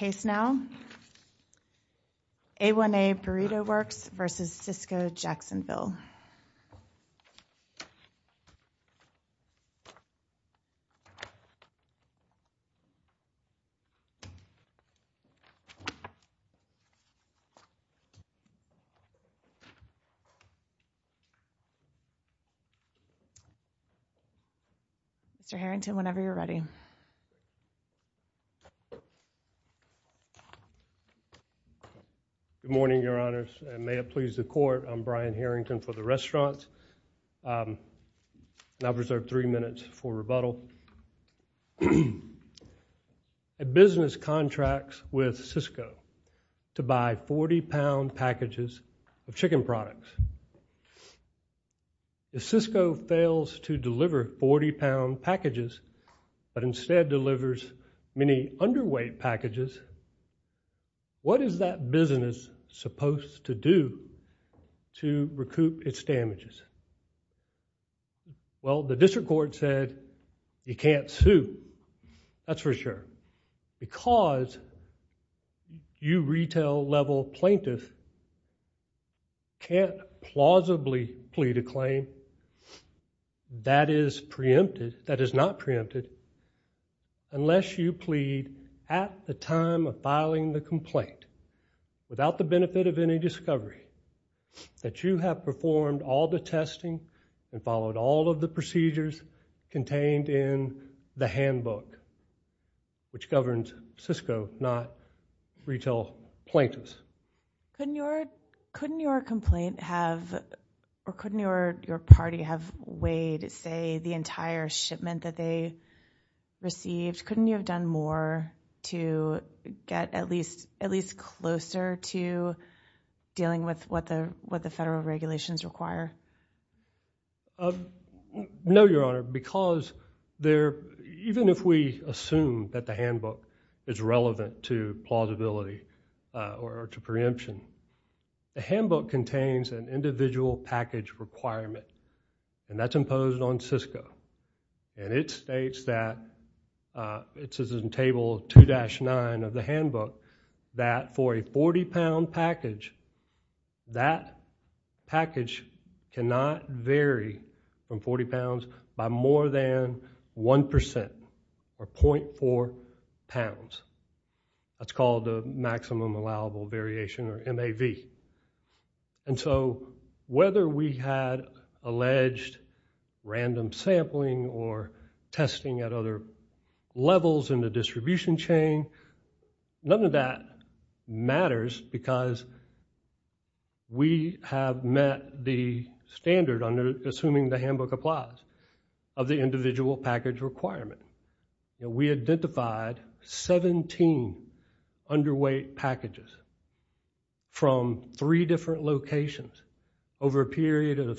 A1A Burrito Works, Inc. v. Sysco Jacksonville, Inc. Good morning, Your Honors, and may it please the Court, I'm Brian Harrington for the Restaurants, and I've reserved three minutes for rebuttal. A business contracts with Sysco to buy 40-pound packages of chicken products. If Sysco fails to deliver 40-pound packages, but instead delivers many underweight packages, what is that business supposed to do to recoup its damages? Well, the District Court said you can't sue, that's for sure, because you retail-level plaintiff can't plausibly plead a claim that is preempted, that is not preempted, unless you plead at the time of filing the complaint without the benefit of any discovery that you have performed all the testing and followed all of the procedures contained in the handbook, which governs Sysco, not retail plaintiffs. Couldn't your complaint have, or couldn't your party have weighed, say, the entire shipment that they received? Couldn't you have done more to get at least closer to dealing with what the federal regulations require? No, Your Honor, because even if we assume that the handbook is relevant to plausibility or to preemption, the handbook contains an individual package requirement, and that's imposed on Sysco, and it states that, it says in Table 2-9 of the handbook, that for a 40-pound package, that package cannot vary from 40 pounds by more than 1% or 0.4 pounds. That's called the Maximum Allowable Variation, or MAV. And so whether we had alleged random sampling or testing at other levels in the distribution chain, none of that matters because we have met the standard, assuming the handbook applies, of the individual package requirement. We identified 17 underweight packages from three different locations over a period of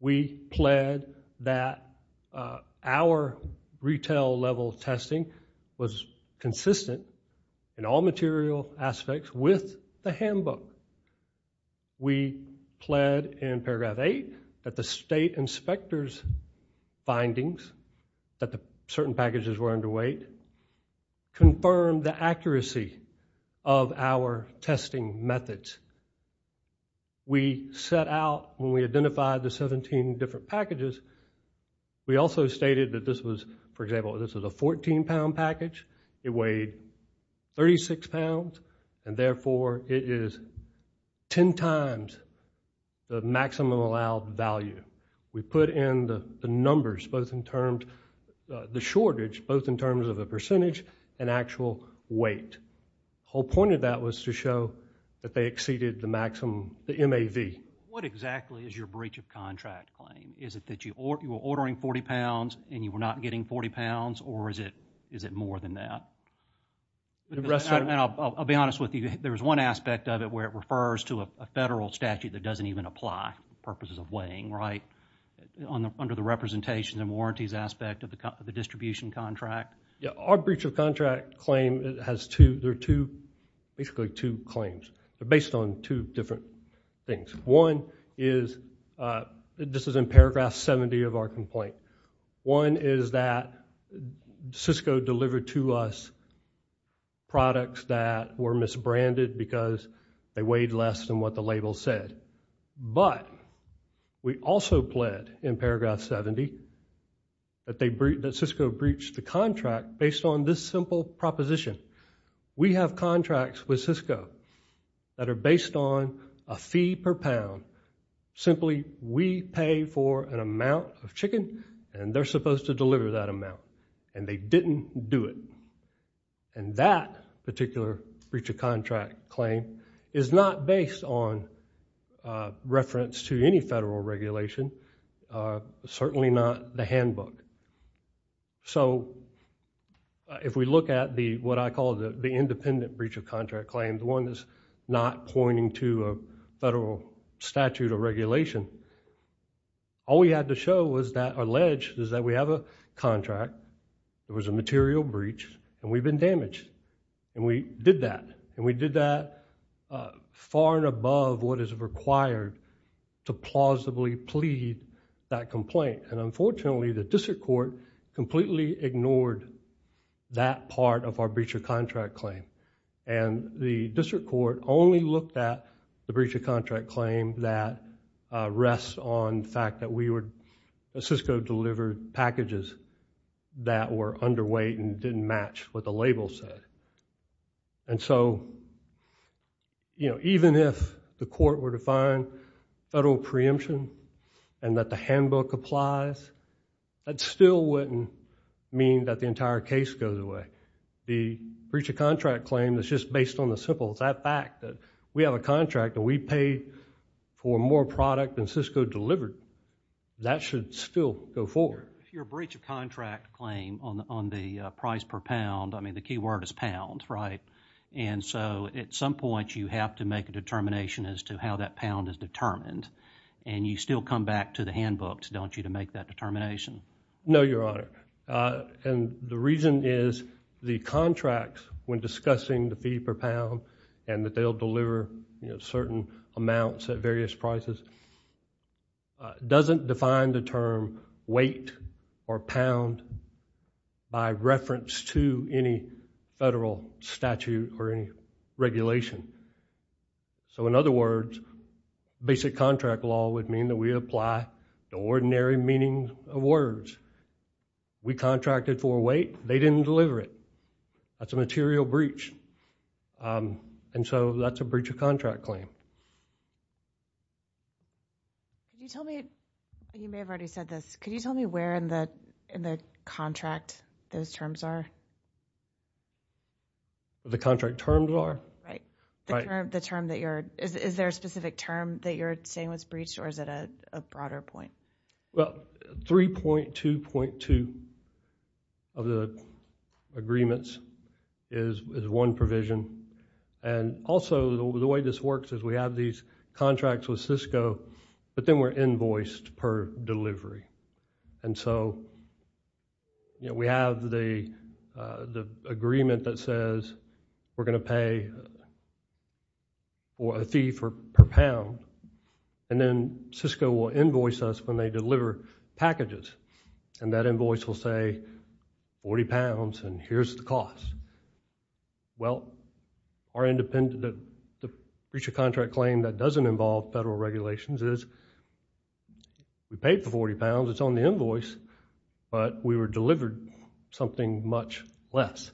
We pled that our retail-level testing was consistent in all material aspects with the handbook. We pled in Paragraph 8 that the State Inspector's findings that certain packages were underweight confirmed the accuracy of our testing methods. We set out, when we identified the 17 different packages, we also stated that this was, for example, this was a 14-pound package. It weighed 36 pounds, and therefore it is 10 times the maximum allowed value. We put in the numbers, both in terms, the shortage, both in terms of the percentage and actual weight. The whole point of that was to show that they exceeded the maximum, the MAV. What exactly is your breach of contract claim? Is it that you were ordering 40 pounds and you were not getting 40 pounds, or is it more than that? I'll be honest with you, there's one aspect of it where it refers to a federal statute that doesn't even apply for purposes of weighing, right? Under the representations and warranties aspect of the distribution contract? Yeah, our breach of contract claim has two, there are two, basically two claims. They're based on two different things. One is, this is in Paragraph 70 of our complaint. One is that Cisco delivered to us products that were misbranded because they weighed less than what the label said. But, we also pled in Paragraph 70 that Cisco breached the contract based on this simple proposition. We have contracts with Cisco that are based on a fee per pound. Simply, we pay for an amount of chicken, and they're supposed to deliver that amount. And they didn't do it. And that particular breach of contract claim is not based on reference to any federal regulation, certainly not the handbook. So, if we look at what I call the independent breach of contract claim, the one that's not pointing to a federal statute or regulation, all we had to show or allege is that we have a contract, there was a material breach, and we've been damaged. And we did that. And we did that far and above what is required to plausibly plead that complaint. And unfortunately, the district court completely ignored that part of our breach of contract claim. And the district court only looked at the breach of contract claim that rests on the fact that that were underweight and didn't match what the label said. And so, even if the court were to find federal preemption and that the handbook applies, that still wouldn't mean that the entire case goes away. The breach of contract claim is just based on the simple fact that we have a contract that we paid for more product than Cisco delivered. That should still go forward. Your breach of contract claim on the price per pound, I mean, the key word is pound, right? And so, at some point, you have to make a determination as to how that pound is determined. And you still come back to the handbook, don't you, to make that determination? No, Your Honor. And the reason is the contracts, when discussing the fee per pound and that they'll deliver certain amounts at various prices, doesn't define the term weight or pound by reference to any federal statute or any regulation. So, in other words, basic contract law would mean that we apply the ordinary meaning of words. We contracted for weight. They didn't deliver it. That's a material breach. And so, that's a breach of contract claim. Can you tell me, and you may have already said this, can you tell me where in the contract those terms are? The contract terms are? Right. Is there a specific term that you're saying was breached or is it a broader point? Well, 3.2.2 of the agreements is one provision. And also, the way this works is we have these contracts with Cisco, but then we're invoiced per delivery. And so, we have the agreement that says we're going to pay a fee per pound, and then Cisco will invoice us when they deliver packages. And that invoice will say 40 pounds and here's the cost. Well, our breach of contract claim that doesn't involve federal regulations is we paid for 40 pounds, it's on the invoice, but we were delivered something much less.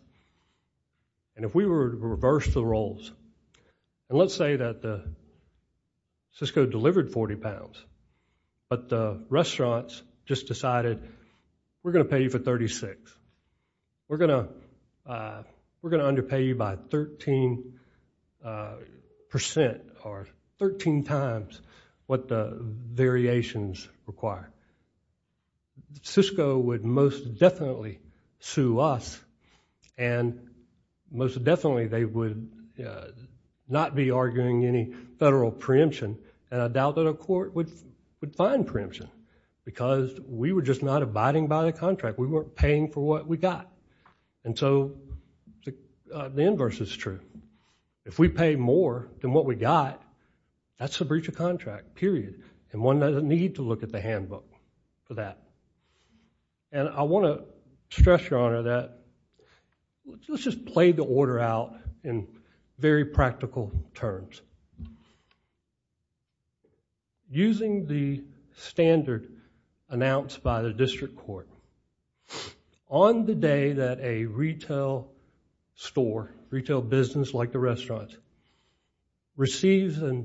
And if we were to reverse the roles, and let's say that Cisco delivered 40 pounds, but the restaurants just decided we're going to pay you for 36. We're going to underpay you by 13% or 13 times what the variations require. Cisco would most definitely sue us and most definitely they would not be arguing any federal preemption and I doubt that a court would find preemption because we were just not abiding by the contract. We weren't paying for what we got. And so, the inverse is true. If we pay more than what we got, that's a breach of contract, period, and one doesn't need to look at the handbook for that. And I want to stress, Your Honor, that let's just play the order out in very practical terms. Using the standard announced by the district court, on the day that a retail store, retail business like the restaurants, receives a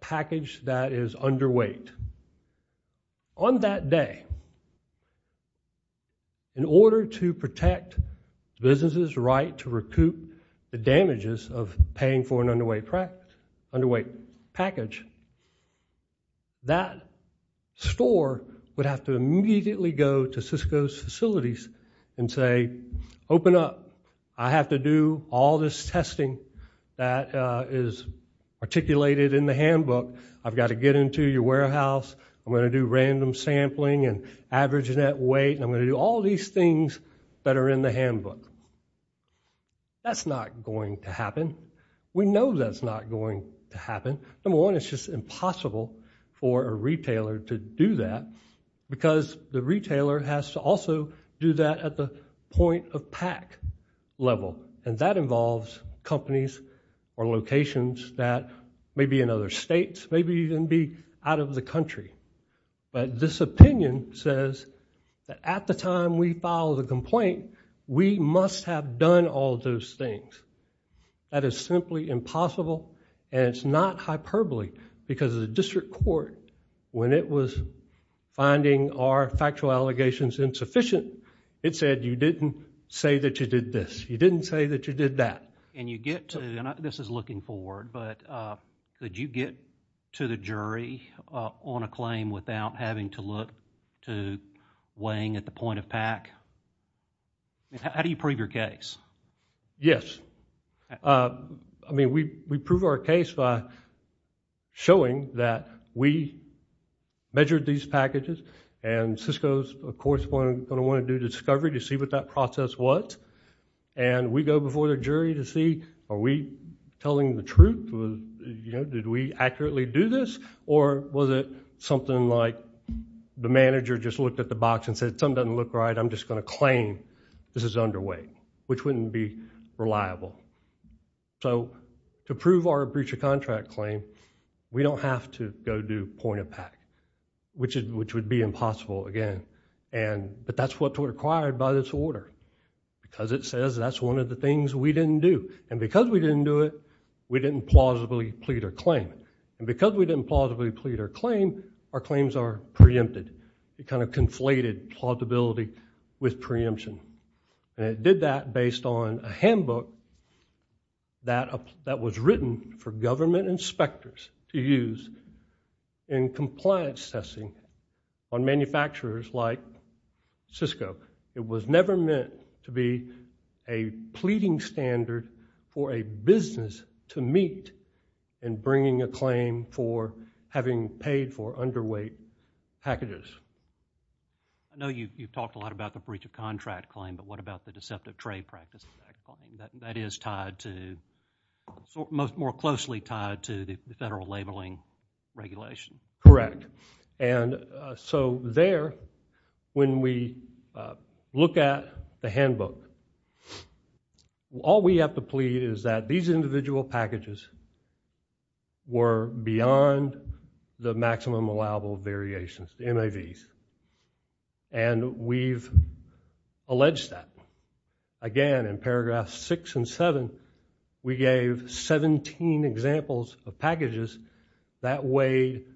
package that is underweight, on that day, in order to protect the business's right to recoup the damages of paying for an underweight package, that store would have to immediately go to Cisco's facilities and say, Open up, I have to do all this testing that is articulated in the handbook. I've got to get into your warehouse. I'm going to do random sampling and average net weight and I'm going to do all these things that are in the handbook. That's not going to happen. We know that's not going to happen. Number one, it's just impossible for a retailer to do that because the retailer has to also do that at the point of pack level and that involves companies or locations that maybe in other states, maybe even be out of the country. But this opinion says that at the time we file the complaint, we must have done all those things. That is simply impossible and it's not hyperbole because the district court, when it was finding our factual allegations insufficient, it said you didn't say that you did this. You didn't say that you did that. You get to, and this is looking forward, but did you get to the jury on a claim without having to look to weighing at the point of pack? How do you prove your case? Yes. We prove our case by showing that we measured these packages and Cisco is, of course, going to want to do discovery to see what that process was, and we go before the jury to see are we telling the truth? Did we accurately do this or was it something like the manager just looked at the box and said something doesn't look right. I'm just going to claim this is underway, which wouldn't be reliable. So to prove our breach of contract claim, we don't have to go do point of pack, which would be impossible again, but that's what's required by this order because it says that's one of the things we didn't do, and because we didn't do it, we didn't plausibly plead our claim, and because we didn't plausibly plead our claim, our claims are preempted. It kind of conflated plausibility with preemption, and it did that based on a handbook that was written for government inspectors to use in compliance testing on manufacturers like Cisco. It was never meant to be a pleading standard for a business to meet in bringing a claim for having paid for underweight packages. I know you've talked a lot about the breach of contract claim, but what about the deceptive trade practice? That is tied to, more closely tied to the federal labeling regulation. Correct, and so there, when we look at the handbook, all we have to plead is that these individual packages were beyond the maximum allowable variations, the MAVs, and we've alleged that. Again, in paragraphs 6 and 7, we gave 17 examples of packages that weighed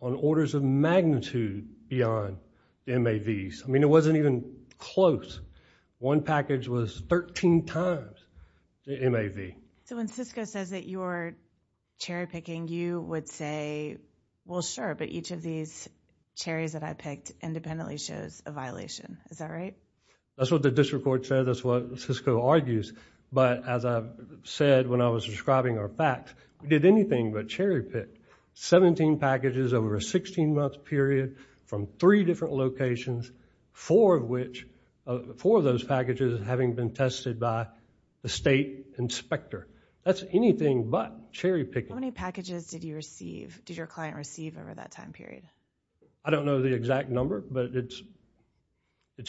on orders of magnitude beyond MAVs. I mean, it wasn't even close. One package was 13 times the MAV. So when Cisco says that you're cherry-picking, you would say, well, sure, but each of these cherries that I picked independently shows a violation. Is that right? That's what the district court said. That's what Cisco argues, but as I said when I was describing our facts, we did anything but cherry-pick. Seventeen packages over a 16-month period from three different locations, four of those packages having been tested by the state inspector. That's anything but cherry-picking. How many packages did your client receive over that time period? I don't know the exact number, but it's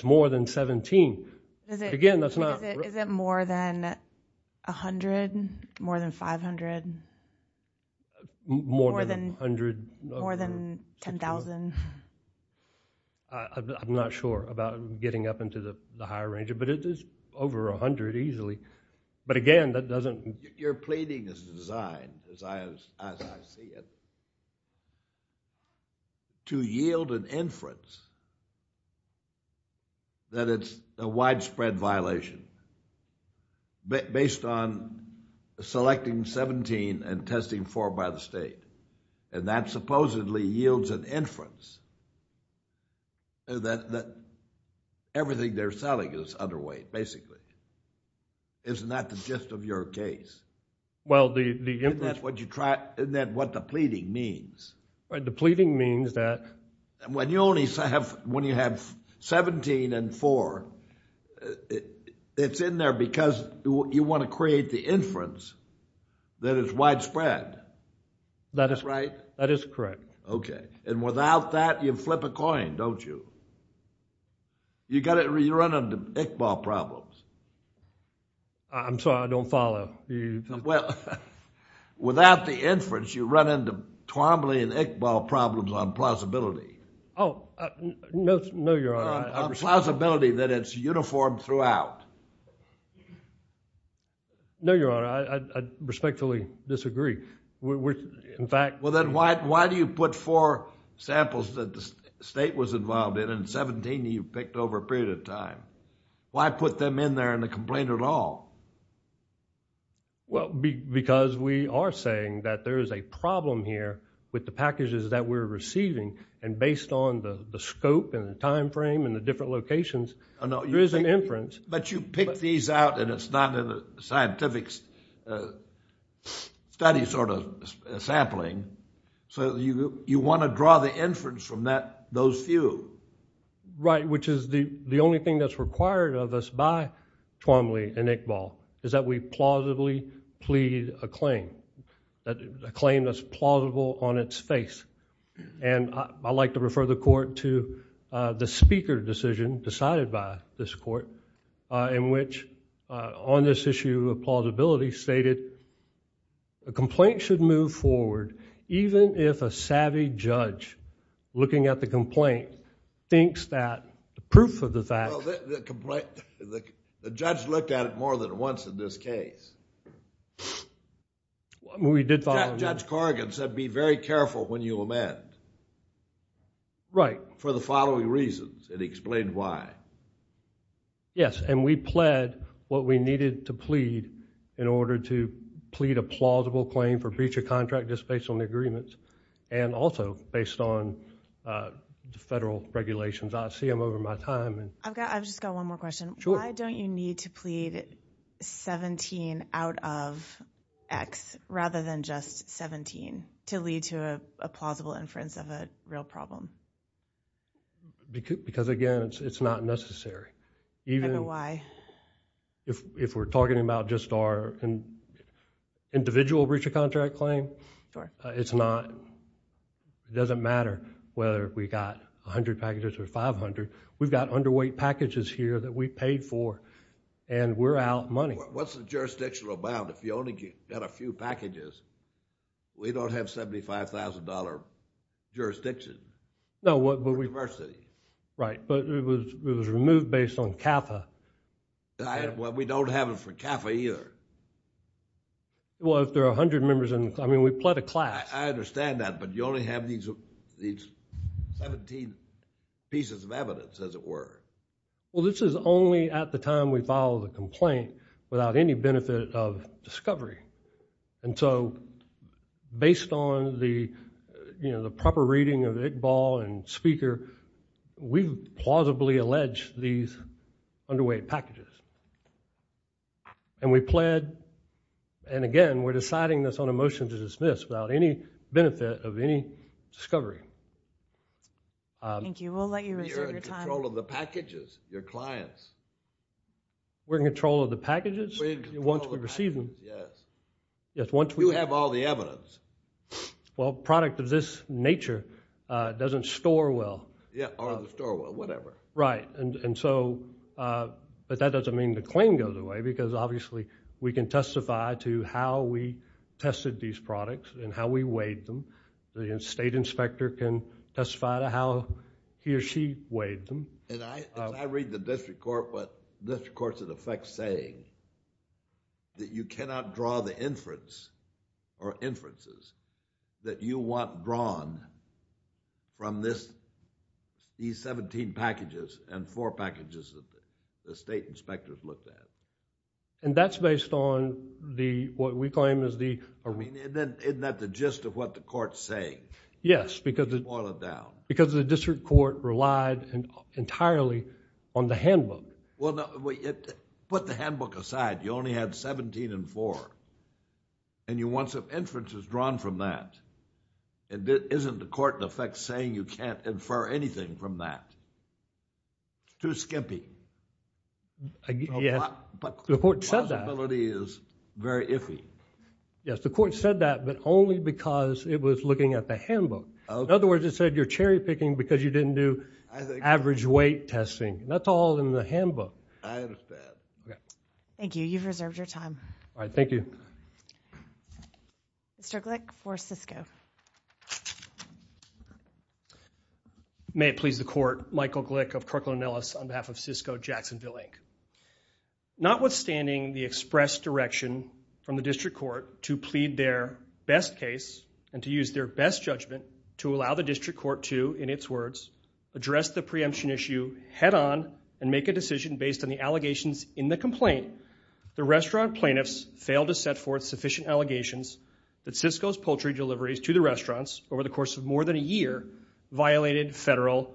more than 17. Again, that's not... Is it more than 100, more than 500? More than 100. More than 10,000. I'm not sure about getting up into the higher range, but it is over 100 easily. But again, that doesn't... Your plating is designed, as I see it, to yield an inference that it's a widespread violation based on selecting 17 and testing four by the state, and that supposedly yields an inference that everything they're selling is underweight, basically. Isn't that the gist of your case? Well, the inference... Isn't that what the plating means? The plating means that... When you have 17 and four, it's in there because you want to create the inference that it's widespread. That is correct. Okay. And without that, you flip a coin, don't you? You run into Iqbal problems. I'm sorry, I don't follow. Well, without the inference, you run into Twombly and Iqbal problems on plausibility. Oh, no, Your Honor. On plausibility that it's uniform throughout. No, Your Honor. I respectfully disagree. In fact... Well, then why do you put four samples that the state was involved in and 17 you picked over a period of time? Why put them in there in the complaint at all? Well, because we are saying that there is a problem here with the packages that we're receiving and based on the scope and the time frame and the different locations, there is an inference. But you picked these out and it's not in a scientific study sort of sampling, so you want to draw the inference from those few. Right, which is the only thing that's required of us by Twombly and Iqbal is that we plausibly plead a claim, a claim that's plausible on its face. And I like to refer the court to the speaker decision decided by this court in which on this issue of plausibility stated, a complaint should move forward even if a savvy judge looking at the complaint thinks that the proof of the fact... Well, the judge looked at it more than once in this case. We did... Judge Corrigan said be very careful when you amend. Right. For the following reasons and he explained why. Yes, and we pled what we needed to plead in order to plead a plausible claim for breach of contract just based on the agreements and also based on the federal regulations. I see them over my time. I've just got one more question. Sure. Why don't you need to plead 17 out of X rather than just 17 to lead to a plausible inference of a real problem? Because, again, it's not necessary. I don't know why. If we're talking about just our individual breach of contract claim, it's not... It doesn't matter whether we got 100 packages or 500. We've got underweight packages here that we paid for and we're out money. What's the jurisdiction about? If you only get a few packages, we don't have $75,000 jurisdiction. No, but we... Diversity. Right, but it was removed based on CAFA. Well, we don't have it for CAFA either. Well, if there are 100 members in the... I mean, we pled a class. I understand that, but you only have these 17 pieces of evidence, as it were. Well, this is only at the time we file the complaint without any benefit of discovery. And so based on the proper reading of Iqbal and Speaker, we plausibly allege these underweight packages. And we pled. And again, we're deciding this on a motion to dismiss without any benefit of any discovery. Thank you. We'll let you reserve your time. You're in control of the packages, your clients. We're in control of the packages once we receive them? Yes. Yes, once we... You have all the evidence. Well, product of this nature doesn't store well. Yeah, or store well, whatever. Right. And so, but that doesn't mean the claim goes away because obviously we can testify to how we tested these products and how we weighed them. The state inspector can testify to how he or she weighed them. And I read the district court's effect saying that you cannot draw the inference or inferences that you want drawn from these seventeen packages and four packages that the state inspectors looked at. And that's based on what we claim is the... Isn't that the gist of what the court's saying? Yes, because... To boil it down. Because the district court relied entirely on the handbook. Well, put the handbook aside. You only had seventeen and four. And you want some inferences drawn from that. Isn't the court in effect saying you can't infer anything from that? Too skimpy. Yes, but the court said that. The possibility is very iffy. Yes, the court said that, but only because it was looking at the handbook. In other words, it said you're cherry-picking because you didn't do average weight testing. That's all in the handbook. I understand. Thank you. You've reserved your time. All right, thank you. Mr. Glick for Cisco. May it please the court, Michael Glick of Kirkland & Ellis on behalf of Cisco Jacksonville Inc. Notwithstanding the express direction from the district court to plead their best case and to use their best judgment to allow the district court to, in its words, address the preemption issue head-on and make a decision based on the allegations in the complaint, the restaurant plaintiffs failed to set forth sufficient allegations that Cisco's poultry deliveries to the restaurants over the course of more than a year violated federal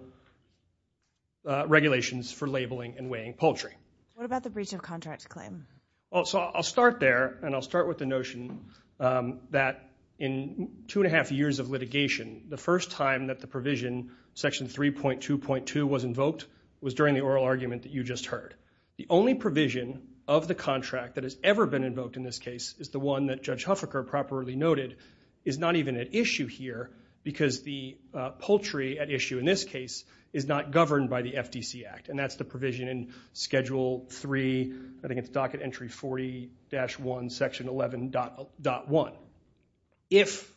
regulations for labeling and weighing poultry. What about the breach of contract claim? I'll start there, and I'll start with the notion that in two and a half years of litigation, the first time that the provision, Section 3.2.2, was invoked was during the oral argument that you just heard. The only provision of the contract that has ever been invoked in this case is the one that Judge Huffaker properly noted is not even at issue here because the poultry at issue in this case is not governed by the FDC Act, and that's the provision in Schedule 3, I think it's Docket Entry 40-1, Section 11.1. If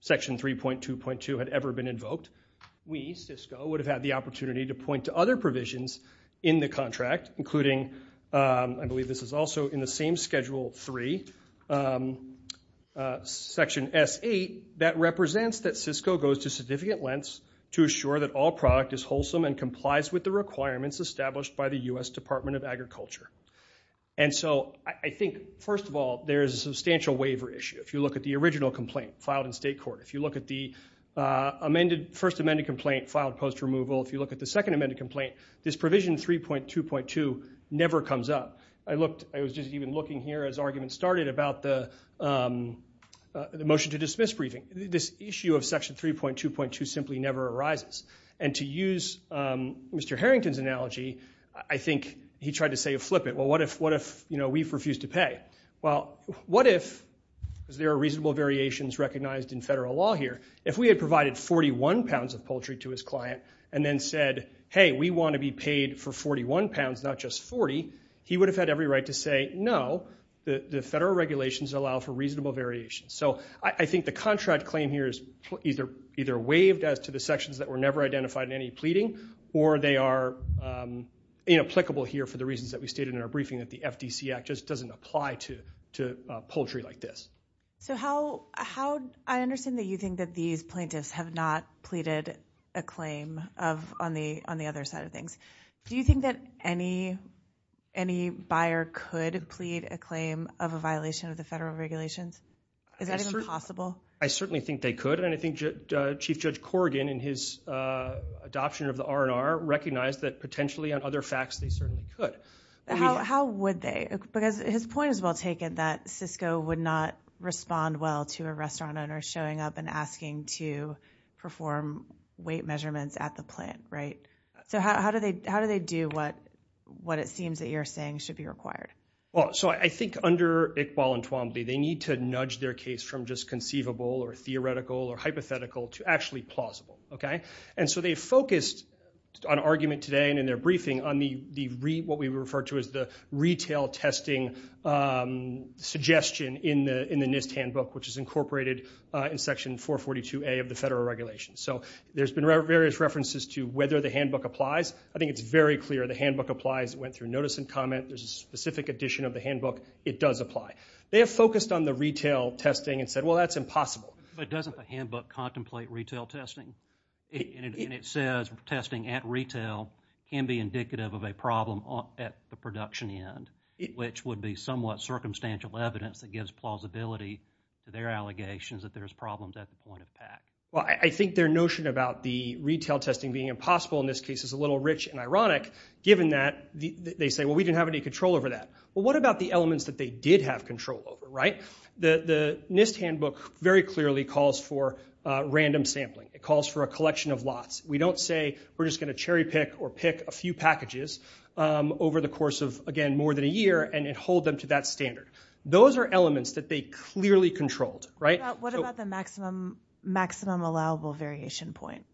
Section 3.2.2 had ever been invoked, we, Cisco, would have had the opportunity to point to other provisions in the contract, including, I believe this is also in the same Schedule 3, Section S.8, that represents that Cisco goes to significant lengths to assure that all product is wholesome and complies with the requirements established by the U.S. Department of Agriculture. And so I think, first of all, there is a substantial waiver issue. If you look at the original complaint filed in state court, if you look at the first amended complaint filed post-removal, if you look at the second amended complaint, this provision 3.2.2 never comes up. I was just even looking here as arguments started about the motion to dismiss briefing. This issue of Section 3.2.2 simply never arises. And to use Mr. Harrington's analogy, I think he tried to say a flip it. Well, what if we refuse to pay? Well, what if, because there are reasonable variations recognized in federal law here, if we had provided 41 pounds of poultry to his client and then said, hey, we want to be paid for 41 pounds, not just 40, he would have had every right to say, no, the federal regulations allow for reasonable variations. So I think the contract claim here is either waived as to the sections that were never identified in any pleading, or they are inapplicable here for the reasons that we stated in our briefing that the FDC Act just doesn't apply to poultry like this. So how, I understand that you think that these plaintiffs have not pleaded a claim on the other side of things. Do you think that any, any buyer could plead a claim of a violation of the federal regulations? Is that even possible? I certainly think they could, and I think Chief Judge Corrigan in his adoption of the R&R recognized that potentially on other facts they certainly could. How would they? Because his point is well taken that Cisco would not respond well to a restaurant owner showing up and asking to perform weight measurements at the plant, right? So how do they do what it seems that you're saying should be required? Well, so I think under Iqbal and Twombly they need to nudge their case from just conceivable or theoretical or hypothetical to actually plausible, okay? And so they focused on argument today and in their briefing on the, what we refer to as the retail testing suggestion in the NIST handbook which is incorporated in Section 442A of the federal regulations. So there's been various references to whether the handbook applies. I think it's very clear the handbook applies. It went through notice and comment. There's a specific edition of the handbook. It does apply. They have focused on the retail testing and said, well, that's impossible. But doesn't the handbook contemplate retail testing? And it says testing at retail can be indicative of a problem at the production end which would be somewhat circumstantial evidence that gives plausibility to their allegations that there's problems at the point of impact. Well, I think their notion about the retail testing being impossible in this case is a little rich and ironic given that they say, well, we didn't have any control over that. Well, what about the elements that they did have control over, right? The NIST handbook very clearly calls for random sampling. It calls for a collection of lots. We don't say we're just gonna cherry pick or pick a few packages over the course of, again, more than a year and hold them to that standard. Those are elements that they clearly controlled, right? What about the maximum allowable variation point?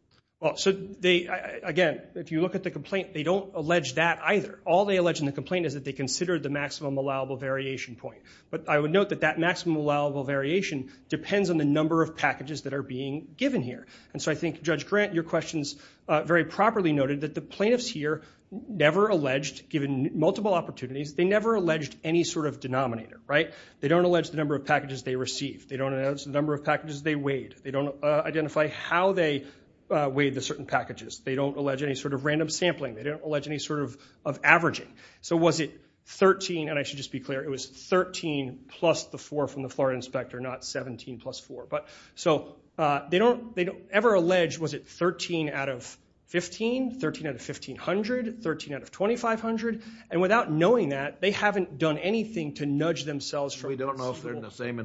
Well, so they, again, if you look at the complaint, they don't allege that either. All they allege in the complaint is that they considered the maximum allowable variation point. But I would note that that maximum allowable variation depends on the number of packages that are being given here. And so I think, Judge Grant, your question's very properly noted that the plaintiffs here never alleged, given multiple opportunities, they never alleged any sort of denominator, right? They don't allege the number of packages they received. They don't allege the number of packages they weighed. They don't identify how they weighed the certain packages. They don't allege any sort of random sampling. They don't allege any sort of averaging. So was it 13, and I should just be clear, it was 13 plus the four from the Florida Inspector, not 17 plus four. So they don't ever allege, was it 13 out of 15, 13 out of 1,500, 13 out of 2,500? And without knowing that, they haven't done anything to nudge themselves from... We don't know if they're in the same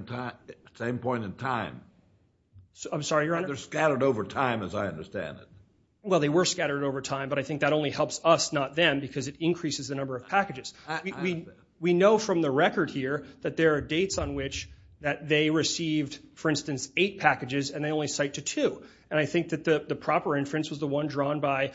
point in time. I'm sorry, Your Honor? They're scattered over time, as I understand it. Well, they were scattered over time, but I think that only helps us, not them, because it increases the number of packages. We know from the record here that there are dates on which that they received, for instance, eight packages, and they only cite to two. And I think that the proper inference was the one drawn by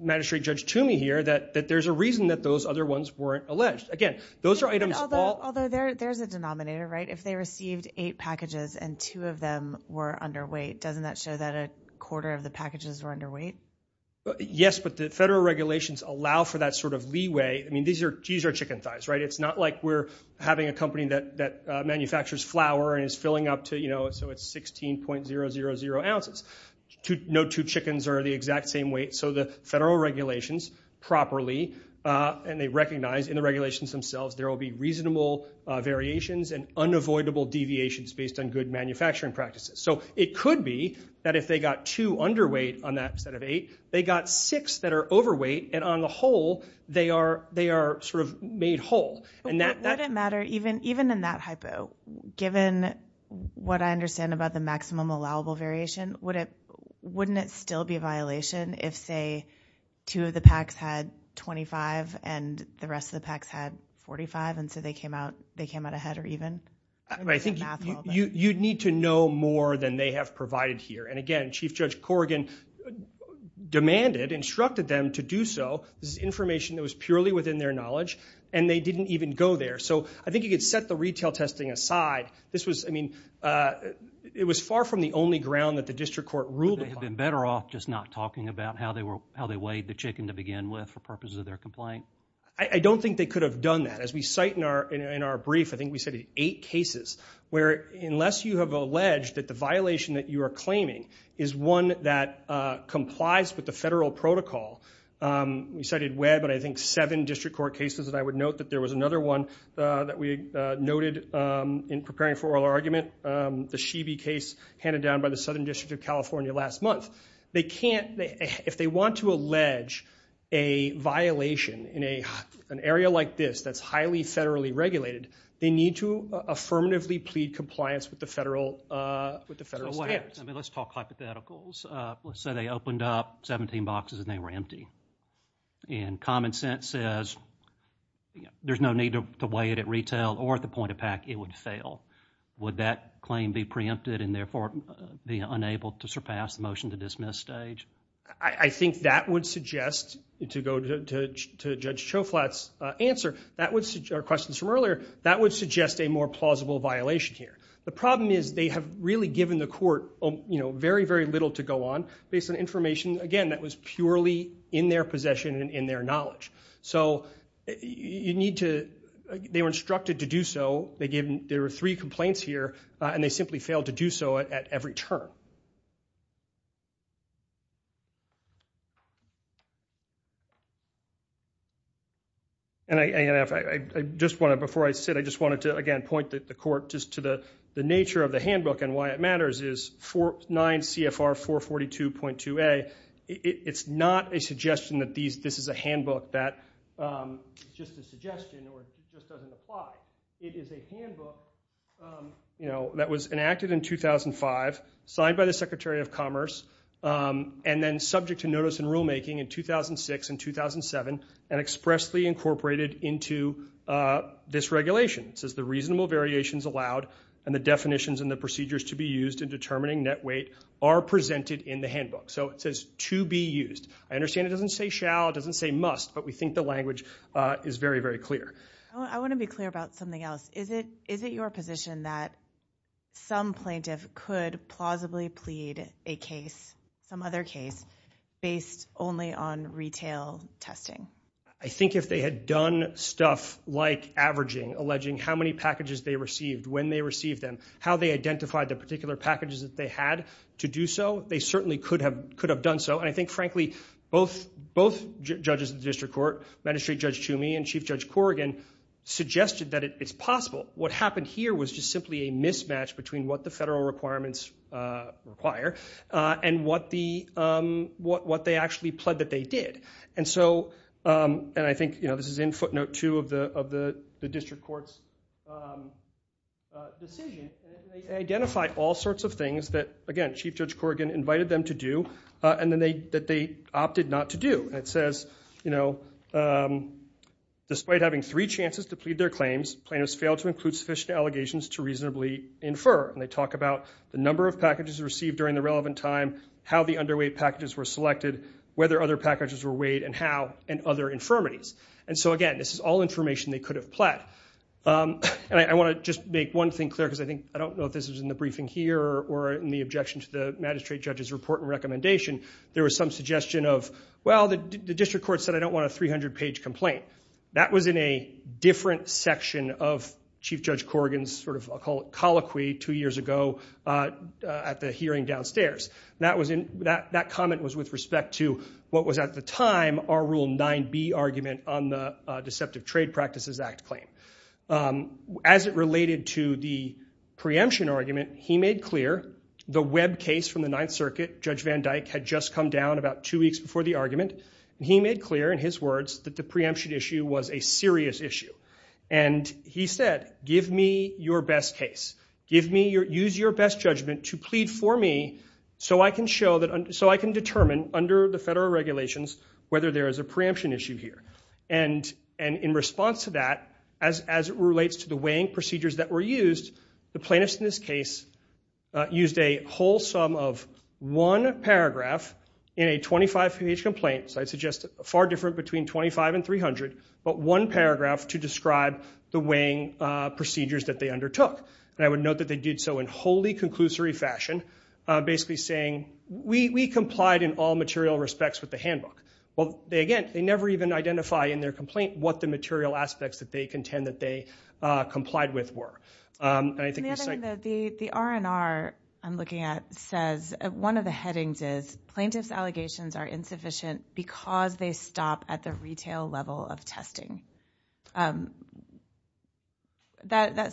Magistrate Judge Toomey here, that there's a reason that those other ones weren't alleged. Again, those are items... Although there's a denominator, right? If they received eight packages and two of them were underweight, doesn't that show that a quarter of the packages were underweight? Yes, but the federal regulations allow for that sort of leeway. I mean, these are chicken thighs, right? It's not like we're having a company that manufactures flour and is filling up to, you know, so it's 16.000 ounces. No two chickens are the exact same weight. So the federal regulations properly, and they recognize in the regulations themselves, there will be reasonable variations and unavoidable deviations based on good manufacturing practices. So it could be that if they got two underweight on that set of eight, they got six that are overweight, and on the whole, they are sort of made whole. Wouldn't it matter, even in that hypo, given what I understand about the maximum allowable variation, wouldn't it still be a violation if, say, two of the packs had 25 and the rest of the packs had 45 and so they came out ahead or even? I think you'd need to know more than they have provided here. And again, Chief Judge Corrigan demanded, instructed them to do so. This is information that was purely within their knowledge, and they didn't even go there. So I think you could set the retail testing aside. This was, I mean, it was far from the only ground that the district court ruled upon. Would they have been better off just not talking about how they weighed the chicken to begin with for purposes of their complaint? I don't think they could have done that. As we cite in our brief, I think we cited eight cases where unless you have alleged that the violation that you are claiming is one that complies with the federal protocol, we cited Webb and I think seven district court cases and I would note that there was another one that we noted in preparing for oral argument, the Shebe case handed down by the Southern District of California last month. They can't, if they want to allege a violation in an area like this that's highly federally regulated, they need to affirmatively plead compliance with the federal standards. Let's talk hypotheticals. Let's say they opened up 17 boxes and they were empty. And common sense says there's no need to weigh it at retail or at the point of pack, it would fail. Would that claim be preempted and therefore be unable to surpass the motion to dismiss stage? I think that would suggest, to go to Judge Choflat's answer, our questions from earlier, that would suggest a more plausible violation here. The problem is they have really given the court very, very little to go on. Based on information, again, that was purely in their possession and in their knowledge. So you need to... They were instructed to do so. There were three complaints here, and they simply failed to do so at every turn. Before I sit, I just wanted to, again, point the court just to the nature of the handbook and why it matters is 9 CFR 442.2a said it's not a suggestion that this is a handbook that's just a suggestion or just doesn't apply. It is a handbook that was enacted in 2005, signed by the Secretary of Commerce, and then subject to notice in rulemaking in 2006 and 2007 and expressly incorporated into this regulation. It says the reasonable variations allowed and the definitions and the procedures to be used in determining net weight are presented in the handbook. So it says to be used. I understand it doesn't say shall, it doesn't say must, but we think the language is very, very clear. I want to be clear about something else. Is it your position that some plaintiff could plausibly plead a case, some other case, based only on retail testing? I think if they had done stuff like averaging, alleging how many packages they received, when they received them, how they identified the particular packages that they had to do so, they certainly could have done so. And I think, frankly, both judges of the district court, Magistrate Judge Toomey and Chief Judge Corrigan, suggested that it's possible. What happened here was just simply a mismatch between what the federal requirements require and what they actually pled that they did. And so, and I think this is in footnote 2 of the district court's decision, they identified all sorts of things that, again, Chief Judge Corrigan invited them to do and that they opted not to do. And it says, you know, despite having three chances to plead their claims, plaintiffs failed to include sufficient allegations to reasonably infer. And they talk about the number of packages received during the relevant time, how the underweight packages were selected, whether other packages were weighed, and how, and other infirmities. And so, again, this is all information they could have pled. And I want to just make one thing clear, because I think, I don't know if this was in the briefing here or in the objection to the magistrate judge's report and recommendation, there was some suggestion of, well, the district court said, I don't want a 300-page complaint. That was in a different section of Chief Judge Corrigan's sort of colloquy two years ago at the hearing downstairs. That comment was with respect to what was at the time our Rule 9b argument on the Deceptive Trade Practices Act claim. As it related to the preemption argument, he made clear the web case from the Ninth Circuit, Judge Van Dyck had just come down about two weeks before the argument, and he made clear in his words that the preemption issue was a serious issue. And he said, give me your best case. Use your best judgment to plead for me so I can determine under the federal regulations whether there is a preemption issue here. And in response to that, as it relates to the weighing procedures that were used, the plaintiffs in this case used a whole sum of one paragraph in a 25-page complaint, so I'd suggest far different between 25 and 300, but one paragraph to describe the weighing procedures that they undertook. And I would note that they did so in wholly conclusory fashion, basically saying, we complied in all material respects with the handbook. Well, again, they never even identify in their complaint what the material aspects that they contend that they complied with were. And the other thing, the R&R I'm looking at says, one of the headings is, plaintiffs' allegations are insufficient because they stop at the retail level of testing. It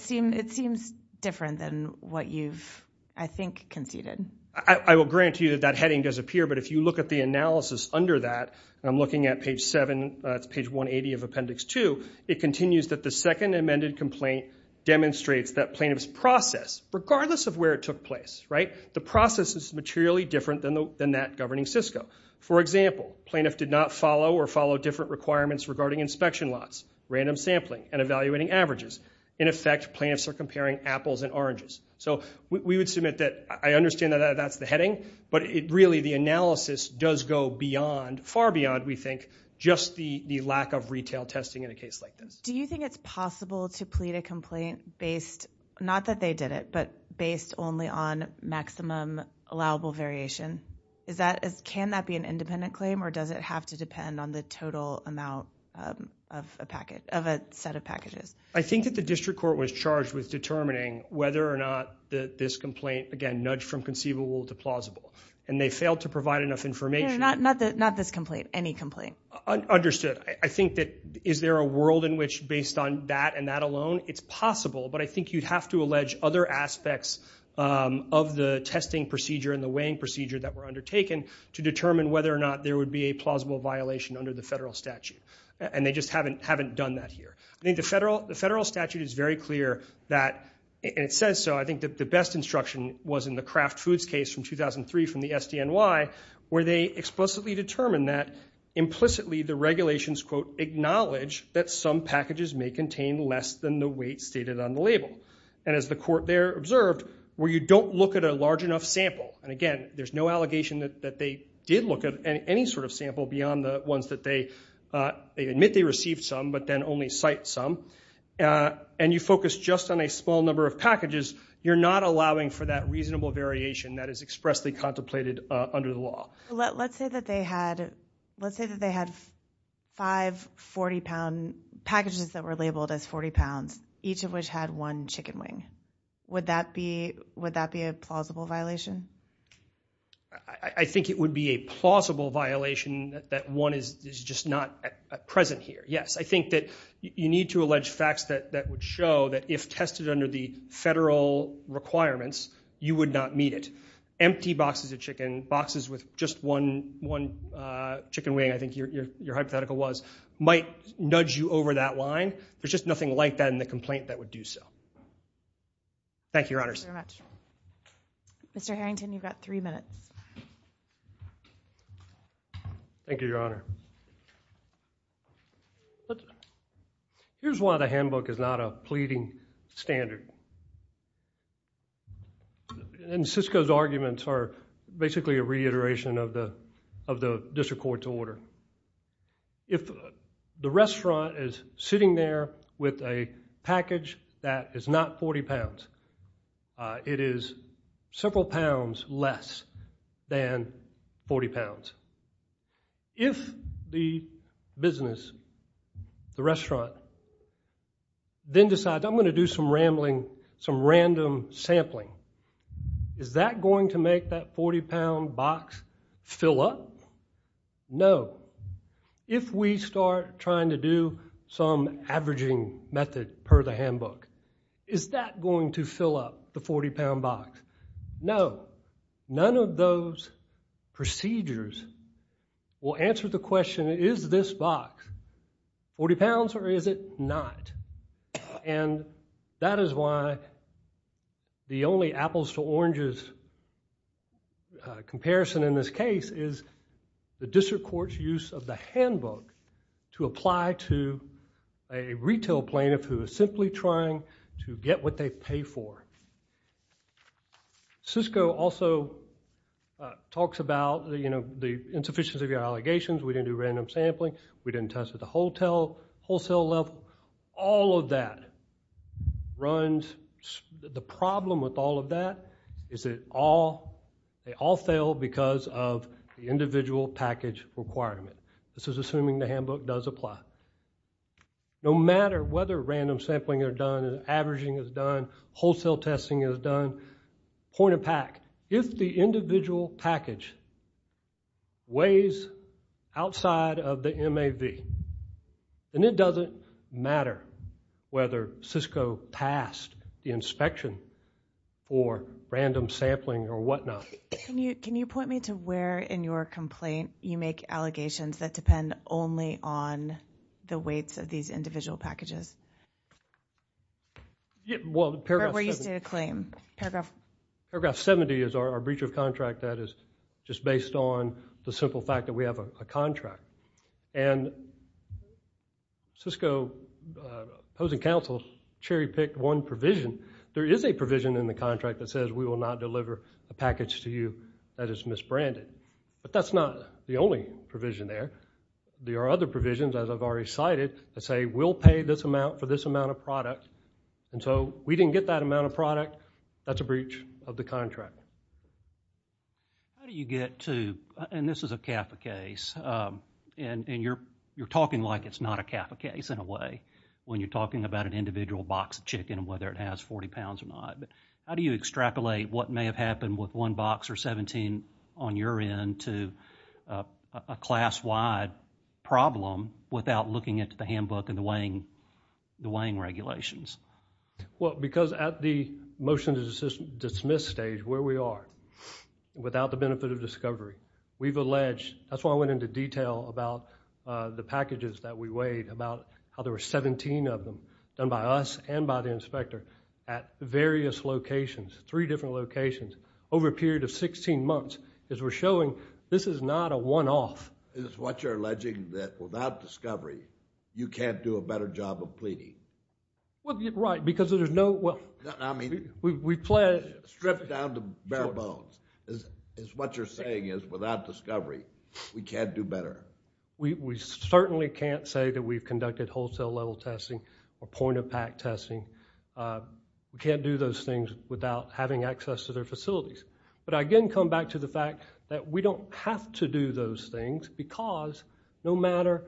seems different than what you've, I think, conceded. I will grant you that that heading does appear, but if you look at the analysis under that, and I'm looking at page 7, that's page 180 of Appendix 2, it continues that the second amended complaint demonstrates that plaintiffs' process, regardless of where it took place, right, the process is materially different than that governing Cisco. For example, plaintiff did not follow or follow different requirements regarding inspection lots, random sampling, and evaluating averages. In effect, plaintiffs are comparing apples and oranges. So we would submit that I understand that that's the heading, but really the analysis does go beyond, far beyond, we think, just the lack of retail testing in a case like this. Do you think it's possible to plead a complaint based, not that they did it, but based only on maximum allowable variation? Can that be an independent claim, or does it have to depend on the total amount of a package, of a set of packages? I think that the district court was charged with determining whether or not this complaint, again, nudged from conceivable to plausible, and they failed to provide enough information. Not this complaint, any complaint. Understood. I think that, is there a world in which, based on that and that alone, it's possible, but I think you'd have to allege other aspects of the testing procedure and the weighing procedure that were undertaken to determine whether or not there would be a plausible violation under the federal statute. And they just haven't done that here. I think the federal statute is very clear that, and it says so, I think that the best instruction was in the Kraft Foods case from 2003 from the SDNY, where they explicitly determined that, implicitly, the regulations, quote, acknowledge that some packages may contain less than the weight stated on the label. And as the court there observed, where you don't look at a large enough sample, and again, there's no allegation that they did look at any sort of sample beyond the ones that they, they admit they received some, but then only cite some, and you focus just on a small number of packages, you're not allowing for that reasonable variation that is expressly contemplated under the law. Let's say that they had five 40-pound packages that were labeled as 40 pounds, each of which had one chicken wing. Would that be a plausible violation? I think it would be a plausible violation that one is just not present here, yes. I think that you need to allege facts that would show that if tested under the federal requirements, you would not meet it. Empty boxes of chicken, boxes with just one chicken wing, I think your hypothetical was, might nudge you over that line. There's just nothing like that in the complaint that would do so. Thank you, Your Honor. Thank you very much. Mr. Harrington, you've got three minutes. Thank you, Your Honor. Here's why the handbook is not a pleading standard. Cisco's arguments are basically a reiteration of the district court's order. If the restaurant is sitting there with a package that is not 40 pounds, it is several pounds less than 40 pounds. If the business, the restaurant, then decides, I'm going to do some rambling, some random sampling, is that going to make that 40-pound box fill up? No. If we start trying to do some averaging method per the handbook, is that going to fill up the 40-pound box? No. None of those procedures will answer the question, is this box 40 pounds or is it not? That is why the only apples to oranges comparison in this case is the district court's use of the handbook to apply to a retail plaintiff who is simply trying to get what they pay for. Cisco also talks about the insufficiency of your allegations. We didn't do random sampling. We didn't test at the wholesale level. All of that runs. The problem with all of that is they all fail because of the individual package requirement. This is assuming the handbook does apply. No matter whether random sampling is done, averaging is done, wholesale testing is done, point and pack, if the individual package weighs outside of the MAV, then it doesn't matter whether Cisco passed the inspection or random sampling or whatnot. Can you point me to where in your complaint you make allegations that depend only on the weights of these individual packages? Where you state a claim. Paragraph 70 is our breach of contract that is just based on the simple fact that we have a contract. And Cisco opposing counsel cherry-picked one provision. There is a provision in the contract that says we will not deliver a package to you that is misbranded. But that's not the only provision there. There are other provisions, as I've already cited, that say we'll pay this amount for this amount of product. And so we didn't get that amount of product. That's a breach of the contract. How do you get to, and this is a CAFA case, and you're talking like it's not a CAFA case in a way when you're talking about an individual box of chicken and whether it has 40 pounds or not. How do you extrapolate what may have happened with one box or 17 on your end to a class-wide problem without looking at the handbook and the weighing regulations? Well, because at the motion to dismiss stage, where we are, without the benefit of discovery, we've alleged, that's why I went into detail about the packages that we weighed, about how there were 17 of them done by us and by the inspector at various locations, three different locations, over a period of 16 months, is we're showing this is not a one-off. Is this what you're alleging, that without discovery, you can't do a better job of pleading? Well, right, because there's no, well... I mean... We pledge... Strip down to bare bones, is what you're saying is without discovery, we can't do better. We certainly can't say that we've conducted wholesale-level testing or point-of-pack testing. We can't do those things without having access to their facilities. But I again come back to the fact that we don't have to do those things because no matter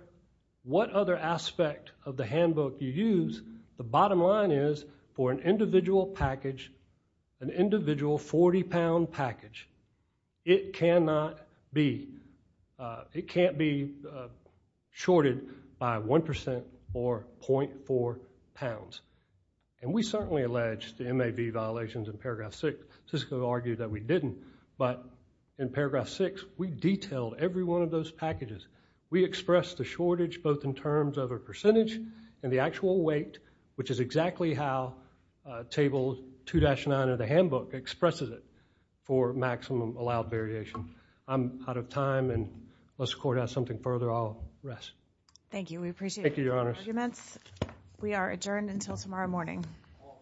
what other aspect of the handbook you use, the bottom line is, for an individual package, an individual 40-pound package, it cannot be... It can't be shorted by 1% or 0.4 pounds. And we certainly alleged the MAB violations in paragraph 6. Cisco argued that we didn't. But in paragraph 6, we detailed every one of those packages. We expressed the shortage both in terms of a percentage and the actual weight, which is exactly how table 2-9 of the handbook expresses it for maximum allowed variation. I'm out of time, and unless the court has something further, I'll rest. Thank you. We appreciate your arguments. We are adjourned until tomorrow morning. All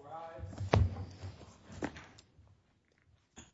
rise.